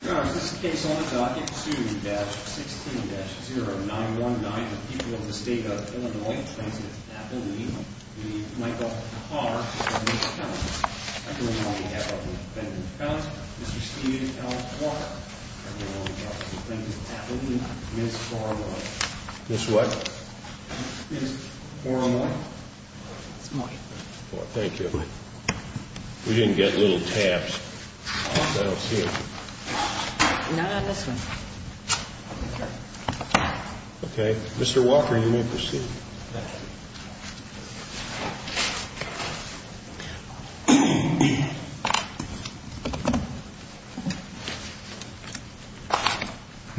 This is a case on the docket 2-16-0919. The people of the state of Illinois claims it's Appalachian. We need Michael Haar to make the count. On behalf of the defendant's count, Mr. Steve L. Haar. Appalachian claims it's Appalachian. Ms. Foramoy. Ms. What? Ms. Foramoy. It's mine. Well, thank you. We didn't get little tabs. Not on this one. Okay. Mr. Walker, you may proceed. Good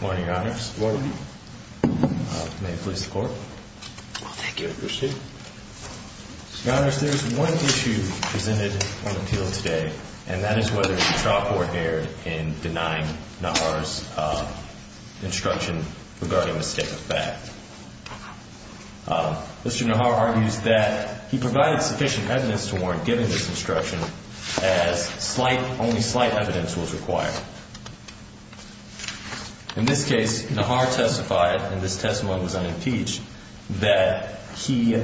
morning, Your Honor. Good morning. May it please the Court. Thank you. Proceed. Your Honor, there's one issue presented on appeal today, and that is whether the trial court erred in denying Najar's instruction regarding the state of the fact. Mr. Najar argues that he provided sufficient evidence to warrant giving this instruction as slight, only slight evidence was required. In this case, Najar testified, and this testimony was unimpeached, that he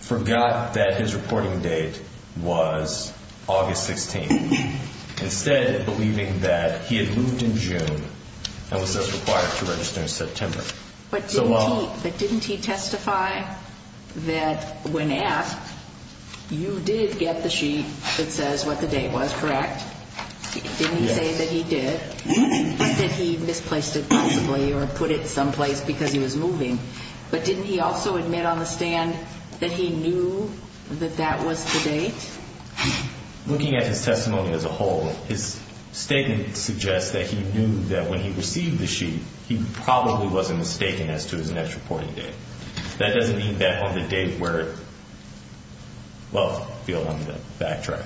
forgot that his reporting date was August 16th, instead believing that he had moved in June and was thus required to register in September. But didn't he testify that when asked, you did get the sheet that says what the date was, correct? Didn't he say that he did? He said he misplaced it possibly or put it someplace because he was moving. But didn't he also admit on the stand that he knew that that was the date? Looking at his testimony as a whole, his statement suggests that he knew that when he received the sheet, he probably wasn't mistaken as to his next reporting date. That doesn't mean that on the date where it, well, beyond the fact track.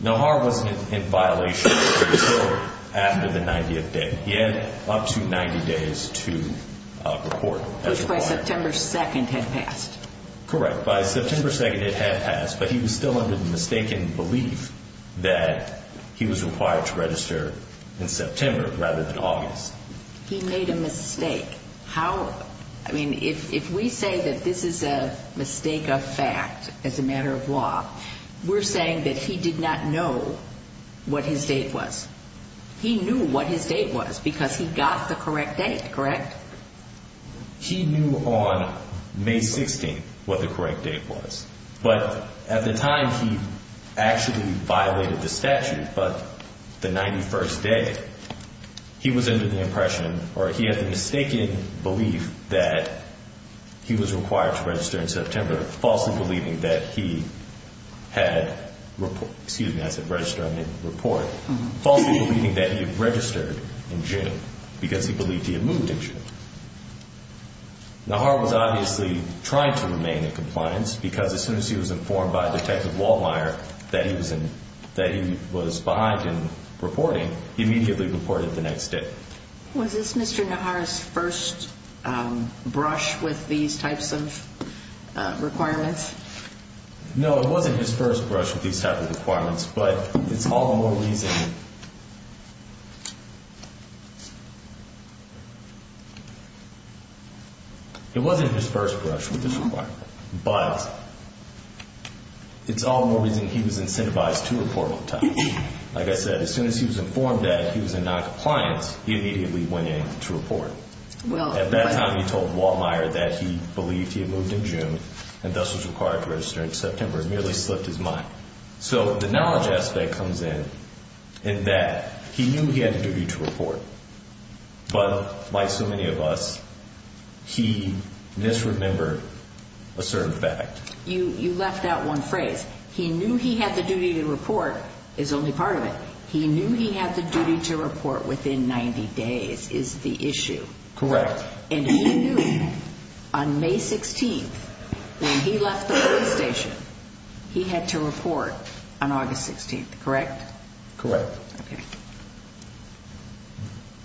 Najar wasn't in violation of his order after the 90th day. He had up to 90 days to report. Which by September 2nd had passed. Correct. By September 2nd it had passed, but he was still under the mistaken belief that he was required to register in September rather than August. He made a mistake. How, I mean, if we say that this is a mistake of fact as a matter of law, we're saying that he did not know what his date was. He knew what his date was because he got the correct date, correct? He knew on May 16th what the correct date was. But at the time he actually violated the statute. But the 91st day, he was under the impression or he had the mistaken belief that he was required to register in September, falsely believing that he had, excuse me, I said register, I meant report. Falsely believing that he had registered in June because he believed he had moved in June. Nahar was obviously trying to remain in compliance because as soon as he was informed by Detective Waldmeier that he was behind in reporting, he immediately reported the next day. Was this Mr. Nahar's first brush with these types of requirements? No, it wasn't his first brush with these types of requirements, but it's all the more reason. It wasn't his first brush with this requirement, but it's all the more reason he was incentivized to report all the time. Like I said, as soon as he was informed that he was in noncompliance, he immediately went in to report. At that time, he told Waldmeier that he believed he had moved in June and thus was required to register in September. It merely slipped his mind. So the knowledge aspect comes in that he knew he had a duty to report, but like so many of us, he misremembered a certain fact. You left out one phrase. He knew he had the duty to report is only part of it. He knew he had the duty to report within 90 days is the issue. Correct. And he knew on May 16th, when he left the police station, he had to report on August 16th, correct? Correct. Okay.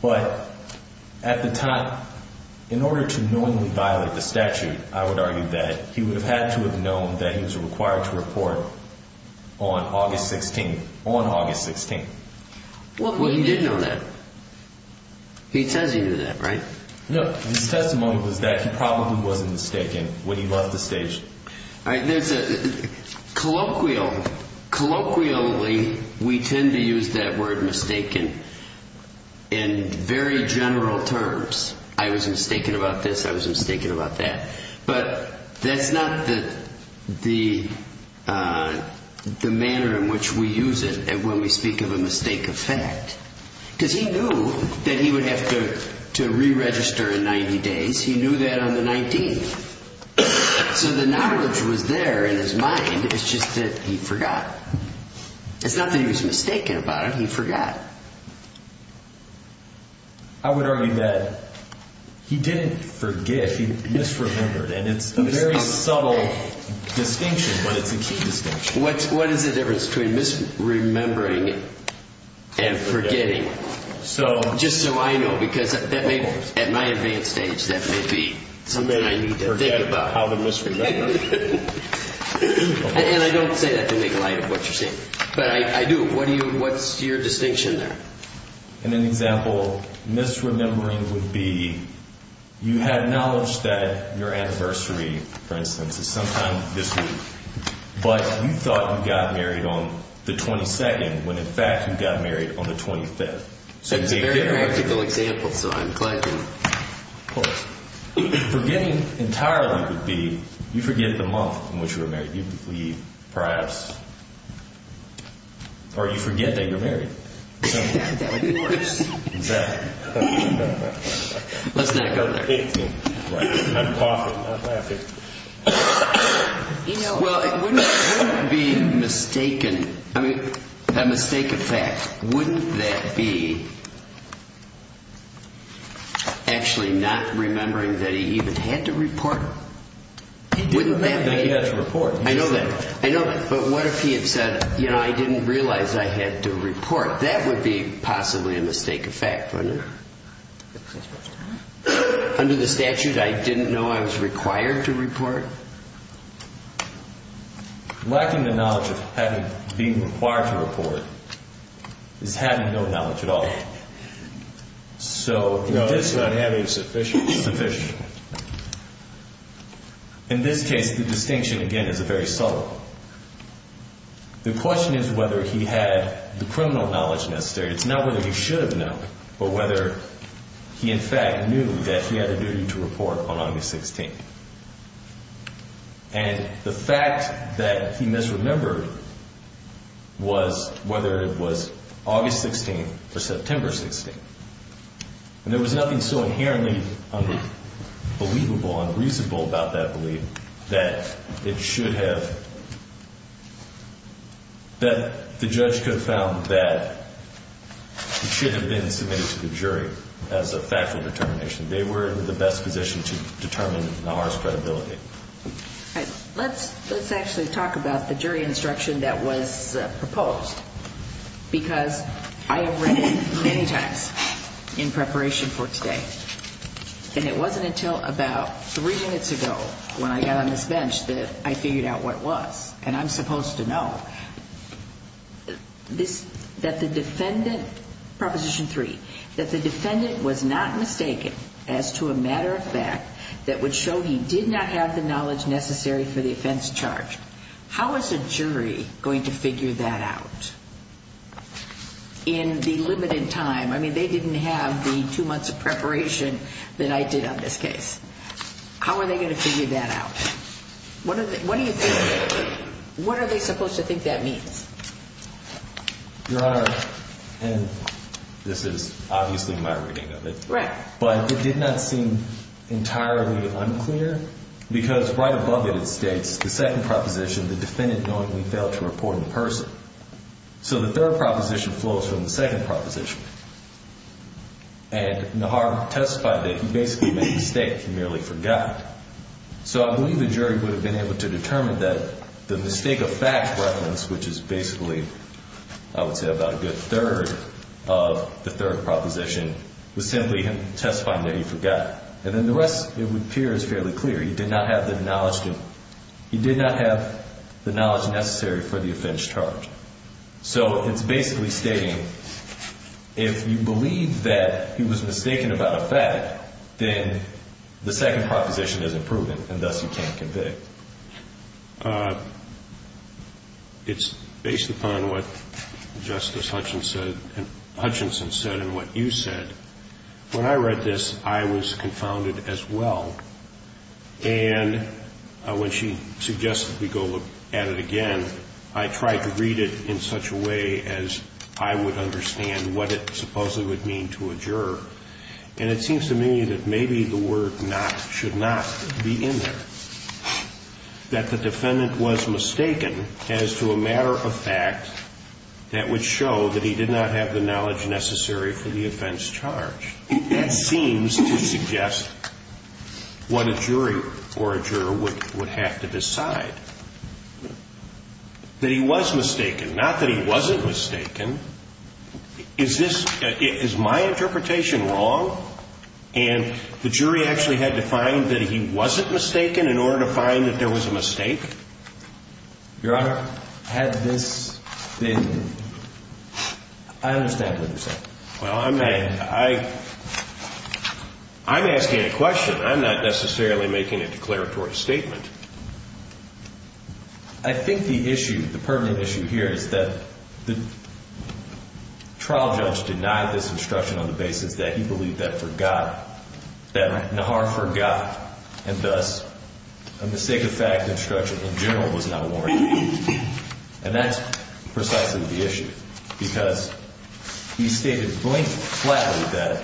But at the time, in order to knowingly violate the statute, I would argue that he would have had to have known that he was required to report on August 16th, on August 16th. Well, he did know that. He says he knew that, right? No. His testimony was that he probably wasn't mistaken when he left the station. All right. There's a colloquial, colloquially, we tend to use that word mistaken in very general terms. I was mistaken about this. I was mistaken about that. But that's not the manner in which we use it when we speak of a mistake of fact. Because he knew that he would have to re-register in 90 days. He knew that on the 19th. So the knowledge was there in his mind. It's just that he forgot. It's not that he was mistaken about it. He forgot. I would argue that he didn't forget. He misremembered. And it's a very subtle distinction, but it's a key distinction. What is the difference between misremembering and forgetting? Just so I know, because at my advanced age, that may be something I need to think about. How to misremember. And I don't say that to make light of what you're saying. But I do. What's your distinction there? In an example, misremembering would be you had knowledge that your anniversary, for instance, is sometime this week. But you thought you got married on the 22nd, when in fact you got married on the 25th. That's a very practical example, so I'm glad you pulled it. Forgetting entirely would be you forget the month in which you were married. You believe, perhaps, or you forget that you're married. That would be worse. Exactly. Let's not go there. Right. I'm coughing. I'm laughing. Well, it wouldn't be mistaken, I mean, a mistake of fact. Wouldn't that be actually not remembering that he even had to report? He did remember that he had to report. I know that. I know that. But what if he had said, you know, I didn't realize I had to report. That would be possibly a mistake of fact, wouldn't it? Under the statute, I didn't know I was required to report? Lacking the knowledge of having being required to report is having no knowledge at all. So in this case. No, it's not having sufficient. Sufficient. In this case, the distinction, again, is very subtle. The question is whether he had the criminal knowledge necessary. It's not whether he should have known, but whether he, in fact, knew that he had a duty to report on August 16th. And the fact that he misremembered was whether it was August 16th or September 16th. And there was nothing so inherently believable, unreasonable about that belief that it should have, that the judge could have found that it should have been submitted to the jury as a factual determination. They were in the best position to determine Nahar's credibility. Let's actually talk about the jury instruction that was proposed. Because I have read it many times in preparation for today. And it wasn't until about three minutes ago when I got on this bench that I figured out what it was. And I'm supposed to know that the defendant, Proposition 3, that the defendant was not mistaken as to a matter of fact that would show he did not have the knowledge necessary for the offense charged. How is a jury going to figure that out in the limited time? I mean, they didn't have the two months of preparation that I did on this case. How are they going to figure that out? What are they supposed to think that means? Your Honor, and this is obviously my reading of it. Right. But it did not seem entirely unclear. Because right above it, it states the second proposition, the defendant knowingly failed to report in person. So the third proposition flows from the second proposition. And Nahar testified that he basically made a mistake and merely forgot. So I believe the jury would have been able to determine that the mistake of fact reference, which is basically, I would say, about a good third of the third proposition, was simply him testifying that he forgot. And then the rest, it would appear, is fairly clear. He did not have the knowledge necessary for the offense charged. So it's basically stating, if you believe that he was mistaken about a fact, then the second proposition isn't proven, and thus you can't convict. It's based upon what Justice Hutchinson said and what you said. When I read this, I was confounded as well. And when she suggested we go look at it again, I tried to read it in such a way as I would understand what it supposedly would mean to a juror. And it seems to me that maybe the word not should not be in there, that the defendant was mistaken as to a matter of fact that would show that he did not have the knowledge necessary for the offense charged. That seems to suggest what a jury or a juror would have to decide, that he was mistaken. Not that he wasn't mistaken. Is this my interpretation wrong? And the jury actually had to find that he wasn't mistaken in order to find that there was a mistake? Your Honor, had this been, I understand what you're saying. Well, I'm asking a question. I'm not necessarily making a declaratory statement. I think the issue, the pertinent issue here is that the trial judge denied this instruction on the basis that he believed that for God, that Nahar forgot, and thus a mistake of fact instruction in general was not warranted. And that's precisely the issue, because he stated blatantly that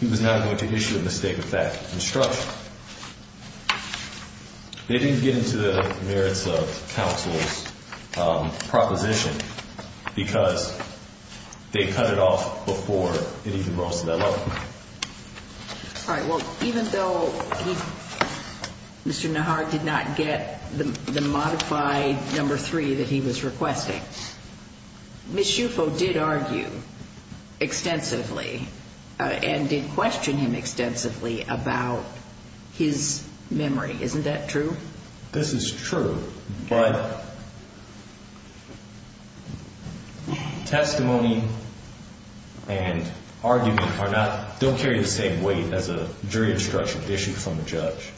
he was not going to issue a mistake of fact instruction. They didn't get into the merits of counsel's proposition because they cut it off before it even rose to that level. All right. Well, even though Mr. Nahar did not get the modified number three that he was requesting, Ms. Schufo did argue extensively and did question him extensively about his memory. Isn't that true? This is true, but testimony and argument don't carry the same weight as a jury instruction issued from a judge.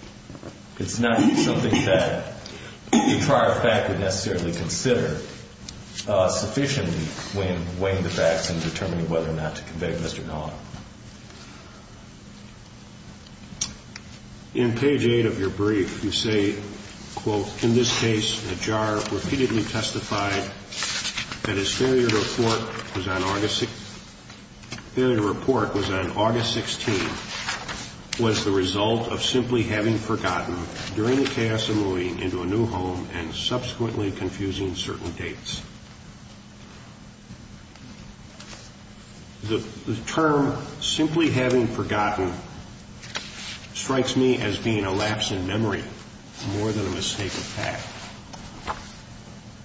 It's not something that the prior fact would necessarily consider sufficiently when weighing the facts and determining whether or not to convict Mr. Nahar. In page eight of your brief, you say, quote, In this case, Nahar repeatedly testified that his failure to report was on August 16th, was the result of simply having forgotten during the chaos of moving into a new home and subsequently confusing certain dates. The term simply having forgotten strikes me as being a lapse in memory more than a mistake of fact.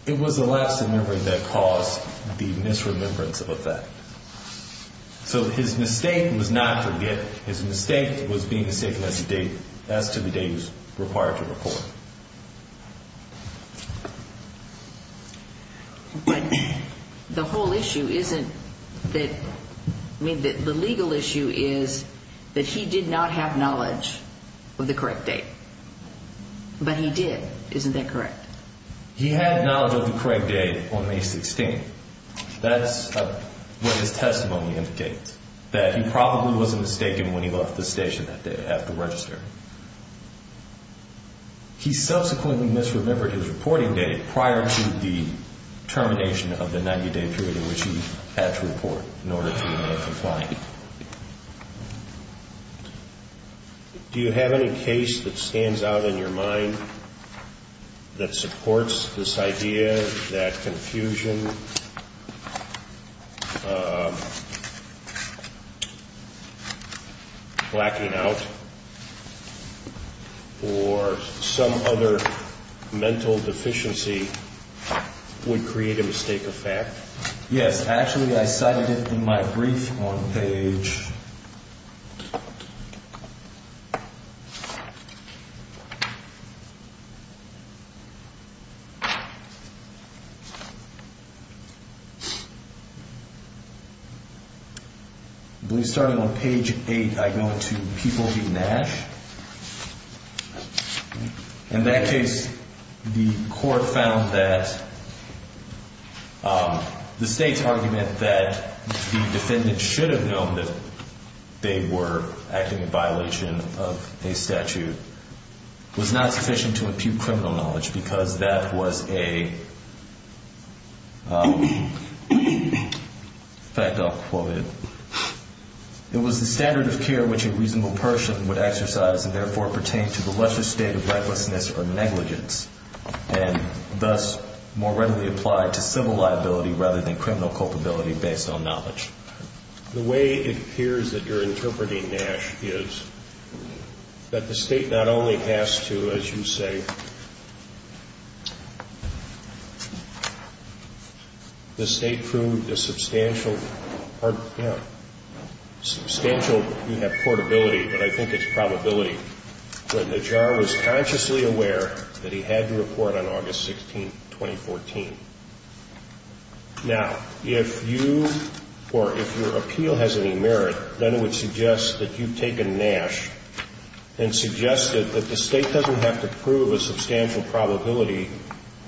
It was a lapse in memory that caused the misremembrance of a fact. So his mistake was not forgetting. His mistake was being mistaken as to the date he was required to report. But the whole issue isn't that the legal issue is that he did not have knowledge of the correct date. But he did. Isn't that correct? He had knowledge of the correct date on May 16th. That's what his testimony indicates, that he probably was mistaken when he left the station that day after registering. He subsequently misremembered his reporting date prior to the termination of the 90-day period in which he had to report in order to remain compliant. Do you have any case that stands out in your mind that supports this idea that confusion, lacking out, or some other mental deficiency would create a mistake of fact? Yes, actually, I cited it in my brief on page... I believe starting on page 8, I go into People v. Nash. In that case, the court found that the state's argument that the defendant should have known that they were acting in violation of a statute was not sufficient to impute criminal knowledge because that was a... In fact, I'll quote it. It was the standard of care which a reasonable person would exercise and therefore pertain to the lesser state of recklessness or negligence and thus more readily apply to civil liability rather than criminal culpability based on knowledge. The way it appears that you're interpreting Nash is that the state not only has to, as you say... The state proved a substantial... Substantial, you have portability, but I think it's probability, that Najjar was consciously aware that he had to report on August 16, 2014. Now, if you or if your appeal has any merit, then it would suggest that you've taken Nash and suggested that the state doesn't have to prove a substantial probability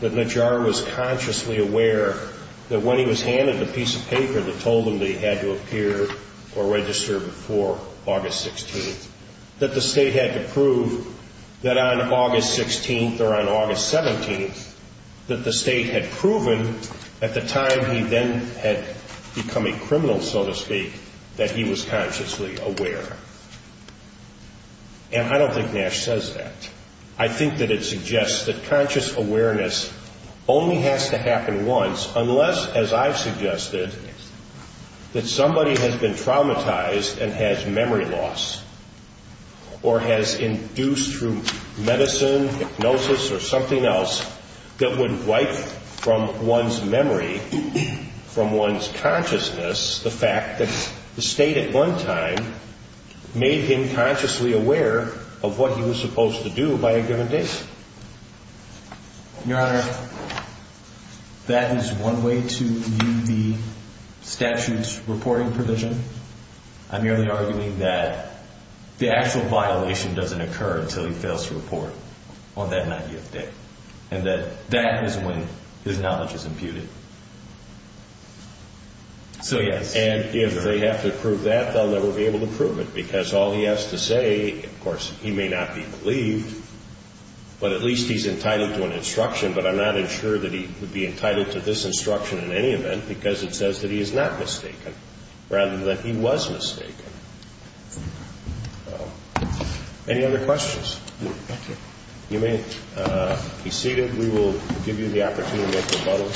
that Najjar was consciously aware that when he was handed the piece of paper that told him that he had to appear or register before August 16th, that the state had to prove that on August 16th or on August 17th, that the state had proven at the time he then had become a criminal, so to speak, that he was consciously aware. And I don't think Nash says that. I think that it suggests that conscious awareness only has to happen once unless, as I've suggested, that somebody has been traumatized and has memory loss or has induced through medicine, hypnosis, or something else that would wipe from one's memory, from one's consciousness, the fact that the state at one time made him consciously aware of what he was supposed to do by a given date. Your Honor, that is one way to view the statute's reporting provision. I'm merely arguing that the actual violation doesn't occur until he fails to report on that 90th day. And that that is when his knowledge is imputed. So, yes. And if they have to prove that, they'll never be able to prove it because all he has to say, of course, he may not be believed, but at least he's entitled to an instruction. But I'm not sure that he would be entitled to this instruction in any event because it says that he is not mistaken rather than that he was mistaken. Any other questions? Thank you. You may be seated. We will give you the opportunity to rebuttal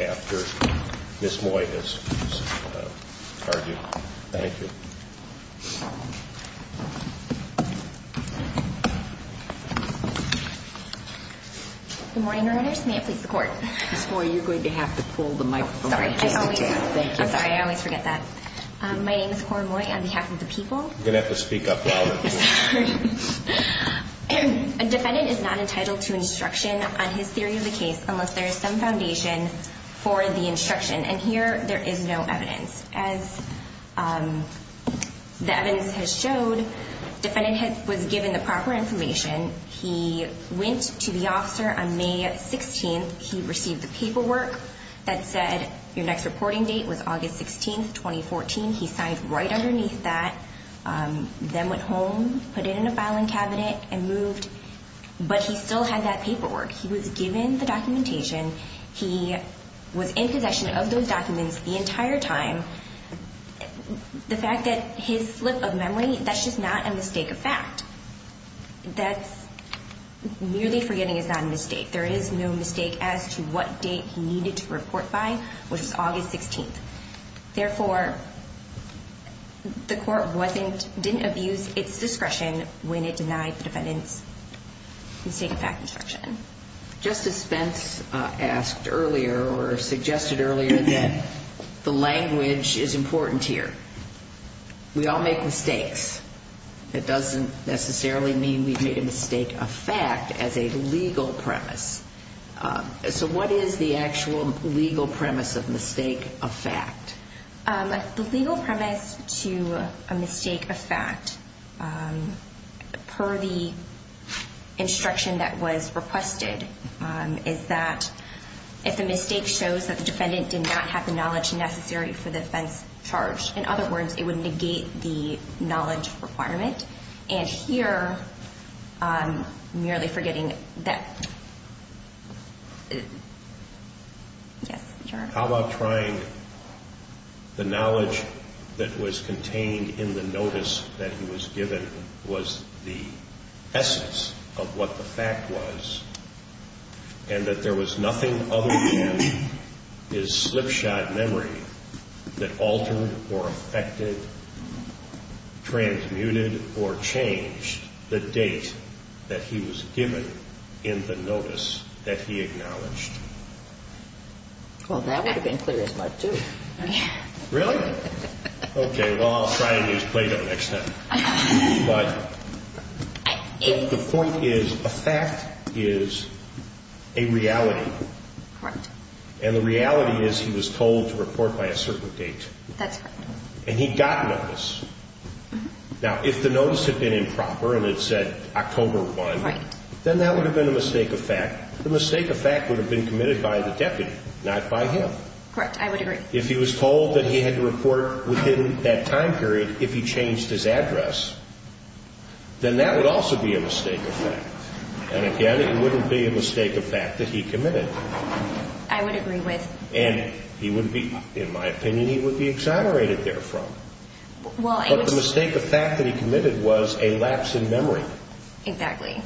after Ms. Moy has argued. Thank you. Good morning, Your Honor. May it please the Court. Ms. Moy, you're going to have to pull the microphone. I'm sorry. I always forget that. My name is Cora Moy on behalf of the people. You're going to have to speak up louder. Sorry. A defendant is not entitled to instruction on his theory of the case unless there is some foundation for the instruction. And here there is no evidence. As the evidence has showed, defendant was given the proper information. He went to the officer on May 16th. He received the paperwork that said your next reporting date was August 16th, 2014. He signed right underneath that. Then went home, put it in a filing cabinet, and moved. But he still had that paperwork. He was given the documentation. He was in possession of those documents the entire time. The fact that his slip of memory, that's just not a mistake of fact. That's merely forgetting is not a mistake. There is no mistake as to what date he needed to report by, which was August 16th. Therefore, the court didn't abuse its discretion when it denied the defendant's mistake of fact instruction. Justice Spence asked earlier or suggested earlier that the language is important here. We all make mistakes. It doesn't necessarily mean we make a mistake of fact as a legal premise. So what is the actual legal premise of mistake of fact? The legal premise to a mistake of fact, per the instruction that was requested, is that if the mistake shows that the defendant did not have the knowledge necessary for the offense charged, in other words, it would negate the knowledge requirement. And here, merely forgetting that, yes, sure. How about trying the knowledge that was contained in the notice that he was given was the essence of what the fact was, and that there was nothing other than his slipshod memory that altered or affected, transmuted or changed the date that he was given in the notice that he acknowledged? Well, that would have been clear as much, too. Really? Okay, well, I'll try and use Plato next time. But the point is a fact is a reality. Correct. And the reality is he was told to report by a certain date. That's correct. And he got notice. Now, if the notice had been improper and it said October 1, then that would have been a mistake of fact. The mistake of fact would have been committed by the deputy, not by him. Correct. I would agree. If he was told that he had to report within that time period if he changed his address, then that would also be a mistake of fact. And, again, it wouldn't be a mistake of fact that he committed. I would agree with. And he wouldn't be, in my opinion, he would be exonerated therefrom. But the mistake of fact that he committed was a lapse in memory. Exactly.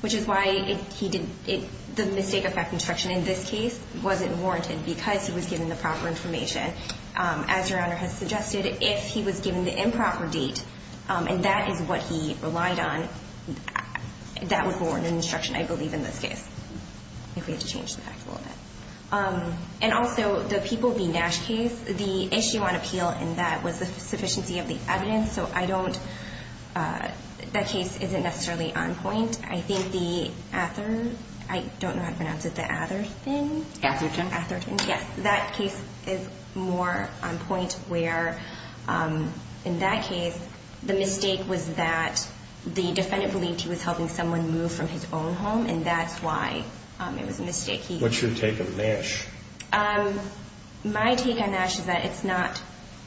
Which is why the mistake of fact instruction in this case wasn't warranted because he was given the proper information. As Your Honor has suggested, if he was given the improper date and that is what he relied on, that would warrant an instruction, I believe, in this case. I think we have to change the facts a little bit. And also, the People v. Nash case, the issue on appeal in that was the sufficiency of the evidence. So I don't, that case isn't necessarily on point. I think the Atherton, I don't know how to pronounce it, the Atherton? Atherton. Atherton, yes. That case is more on point where, in that case, the mistake was that the defendant believed he was helping someone move from his own home, and that's why it was a mistake. What's your take on Nash? My take on Nash is that it's not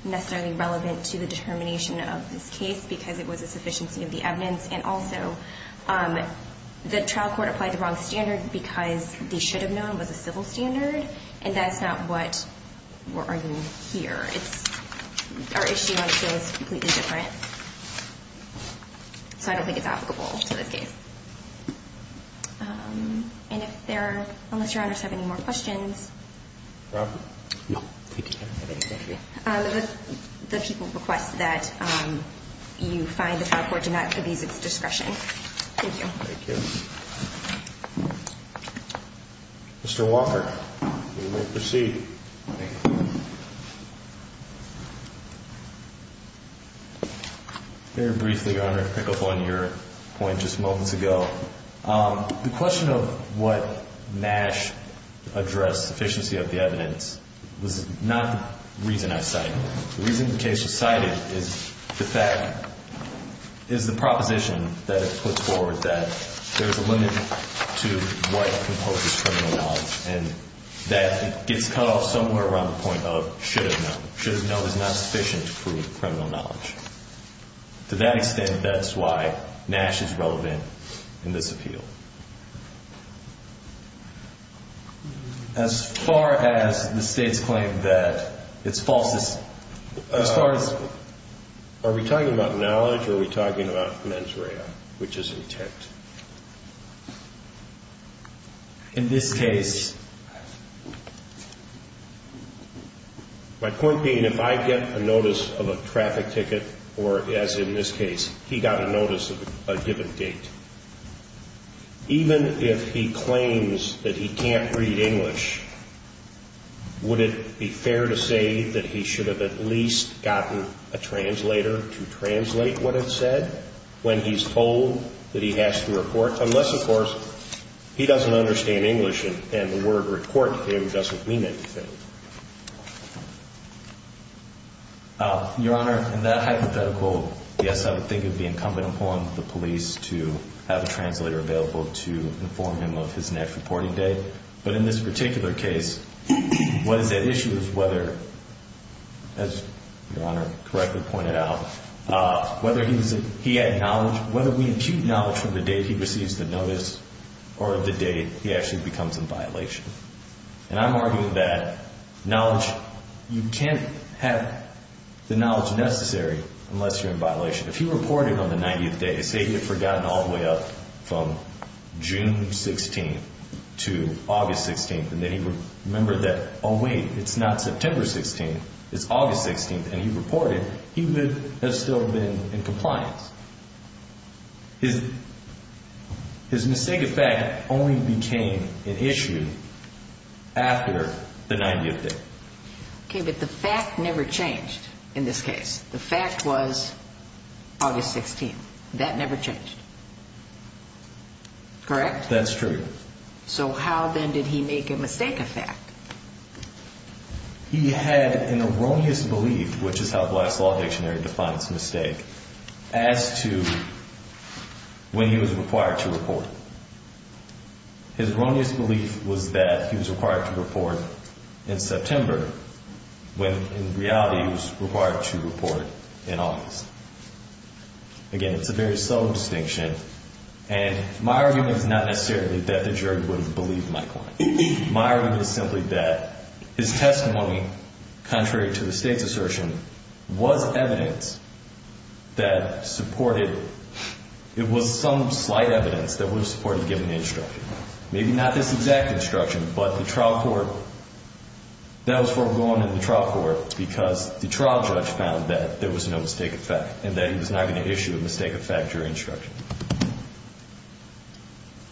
necessarily relevant to the determination of this case because it was a sufficiency of the evidence, and also the trial court applied the wrong standard because they should have known it was a civil standard, and that's not what we're arguing here. It's, our issue on appeal is completely different, so I don't think it's applicable to this case. And if there are, unless Your Honors have any more questions. Robert? No. Thank you. The People request that you find the trial court to not abuse its discretion. Thank you. Thank you. Mr. Walker, you may proceed. Thank you. Very briefly, Your Honor, to pick up on your point just moments ago, the question of what Nash addressed, sufficiency of the evidence, was not the reason I cited it. The reason the case was cited is the proposition that it puts forward that there's a limit to what composes criminal knowledge, and that gets cut off somewhere around the point of should have known. Should have known is not sufficient to prove criminal knowledge. To that extent, that's why Nash is relevant in this appeal. As far as the State's claim that it's false, as far as... Are we talking about knowledge or are we talking about mens rea, which is intact? In this case... My point being, if I get a notice of a traffic ticket, or as in this case, he got a notice of a given date, even if he claims that he can't read English, would it be fair to say that he should have at least gotten a translator to translate what it said when he's told that he has to report, unless, of course, he doesn't understand English and the word report to him doesn't mean anything? Your Honor, in that hypothetical, yes, I would think it would be incumbent upon the police to have a translator available to inform him of his next reporting date. But in this particular case, what is at issue is whether, as Your Honor correctly pointed out, whether he had knowledge... Whether we impute knowledge from the date he receives the notice or the date, he actually becomes in violation. And I'm arguing that knowledge... You can't have the knowledge necessary unless you're in violation. If he reported on the 90th day, say he had forgotten all the way up from June 16th to August 16th, and then he remembered that, oh wait, it's not September 16th, it's August 16th, and he reported, he would have still been in compliance. His mistake of fact only became an issue after the 90th day. Okay, but the fact never changed in this case. The fact was August 16th. That never changed. Correct? That's true. So how then did he make a mistake of fact? He had an erroneous belief, which is how Glass Law Dictionary defines mistake, as to when he was required to report. His erroneous belief was that he was required to report in September when in reality he was required to report in August. Again, it's a very subtle distinction. And my argument is not necessarily that the jury would have believed Mike Klein. My argument is simply that his testimony, contrary to the State's assertion, was evidence that supported, it was some slight evidence that would have supported giving the instruction. Maybe not this exact instruction, but the trial court, that was foregone in the trial court because the trial judge found that there was no mistake of fact in their instruction.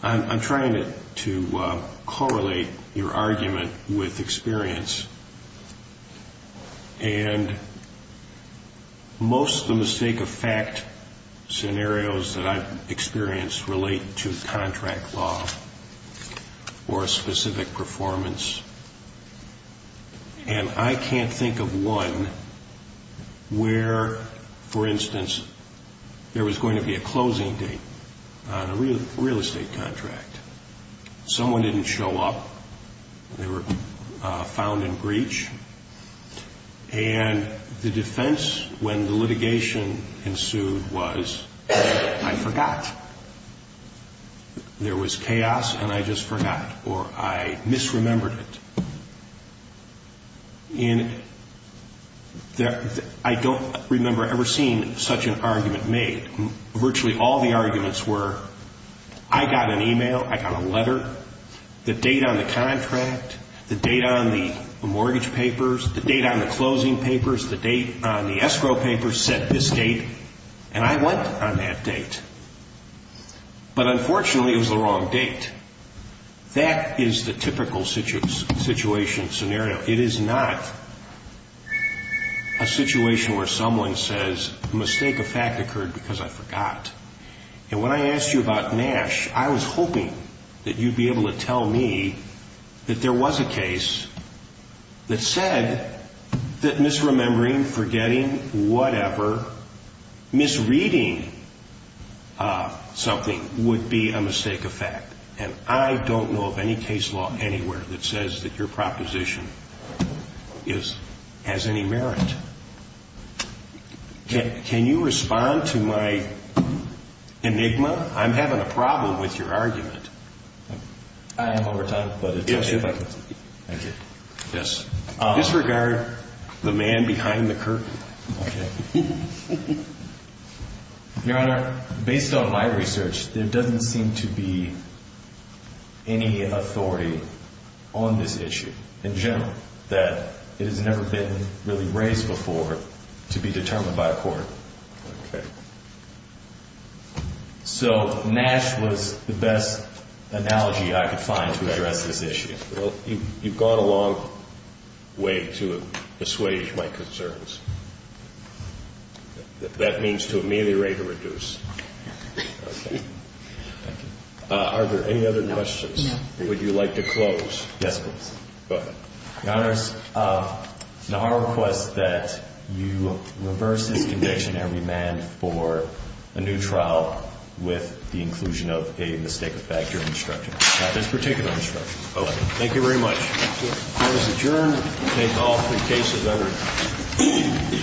I'm trying to correlate your argument with experience. And most of the mistake of fact scenarios that I've experienced relate to contract law or a specific performance. And I can't think of one where, for instance, there was going to be a closing date on a real estate contract. Someone didn't show up. They were found in breach. And the defense when the litigation ensued was, I forgot. There was chaos and I just forgot or I misremembered it. And I don't remember ever seeing such an argument made. Virtually all the arguments were, I got an email, I got a letter. The date on the contract, the date on the mortgage papers, the date on the closing papers, the date on the escrow papers said this date and I went on that date. But unfortunately it was the wrong date. That is the typical situation scenario. It is not a situation where someone says a mistake of fact occurred because I forgot. And when I asked you about Nash, I was hoping that you'd be able to tell me that there was a case that said that misremembering, forgetting, whatever, misreading something would be a mistake of fact. And I don't know of any case law anywhere that says that your proposition has any merit. Can you respond to my enigma? I'm having a problem with your argument. I am over time. Yes. Disregard the man behind the curtain. Okay. Your Honor, based on my research, there doesn't seem to be any authority on this issue in general that it has never been really raised before to be determined by a court. Okay. So Nash was the best analogy I could find to address this issue. Well, you've gone a long way to assuage my concerns. That means to ameliorate or reduce. Okay. Are there any other questions? Would you like to close? Yes, please. Go ahead. Your Honor, it's not our request that you reverse this conviction and remand for a new trial with the inclusion of a mistake of fact during instruction. Not this particular instruction. Okay. Thank you very much. Court is adjourned. We'll take all three cases under review.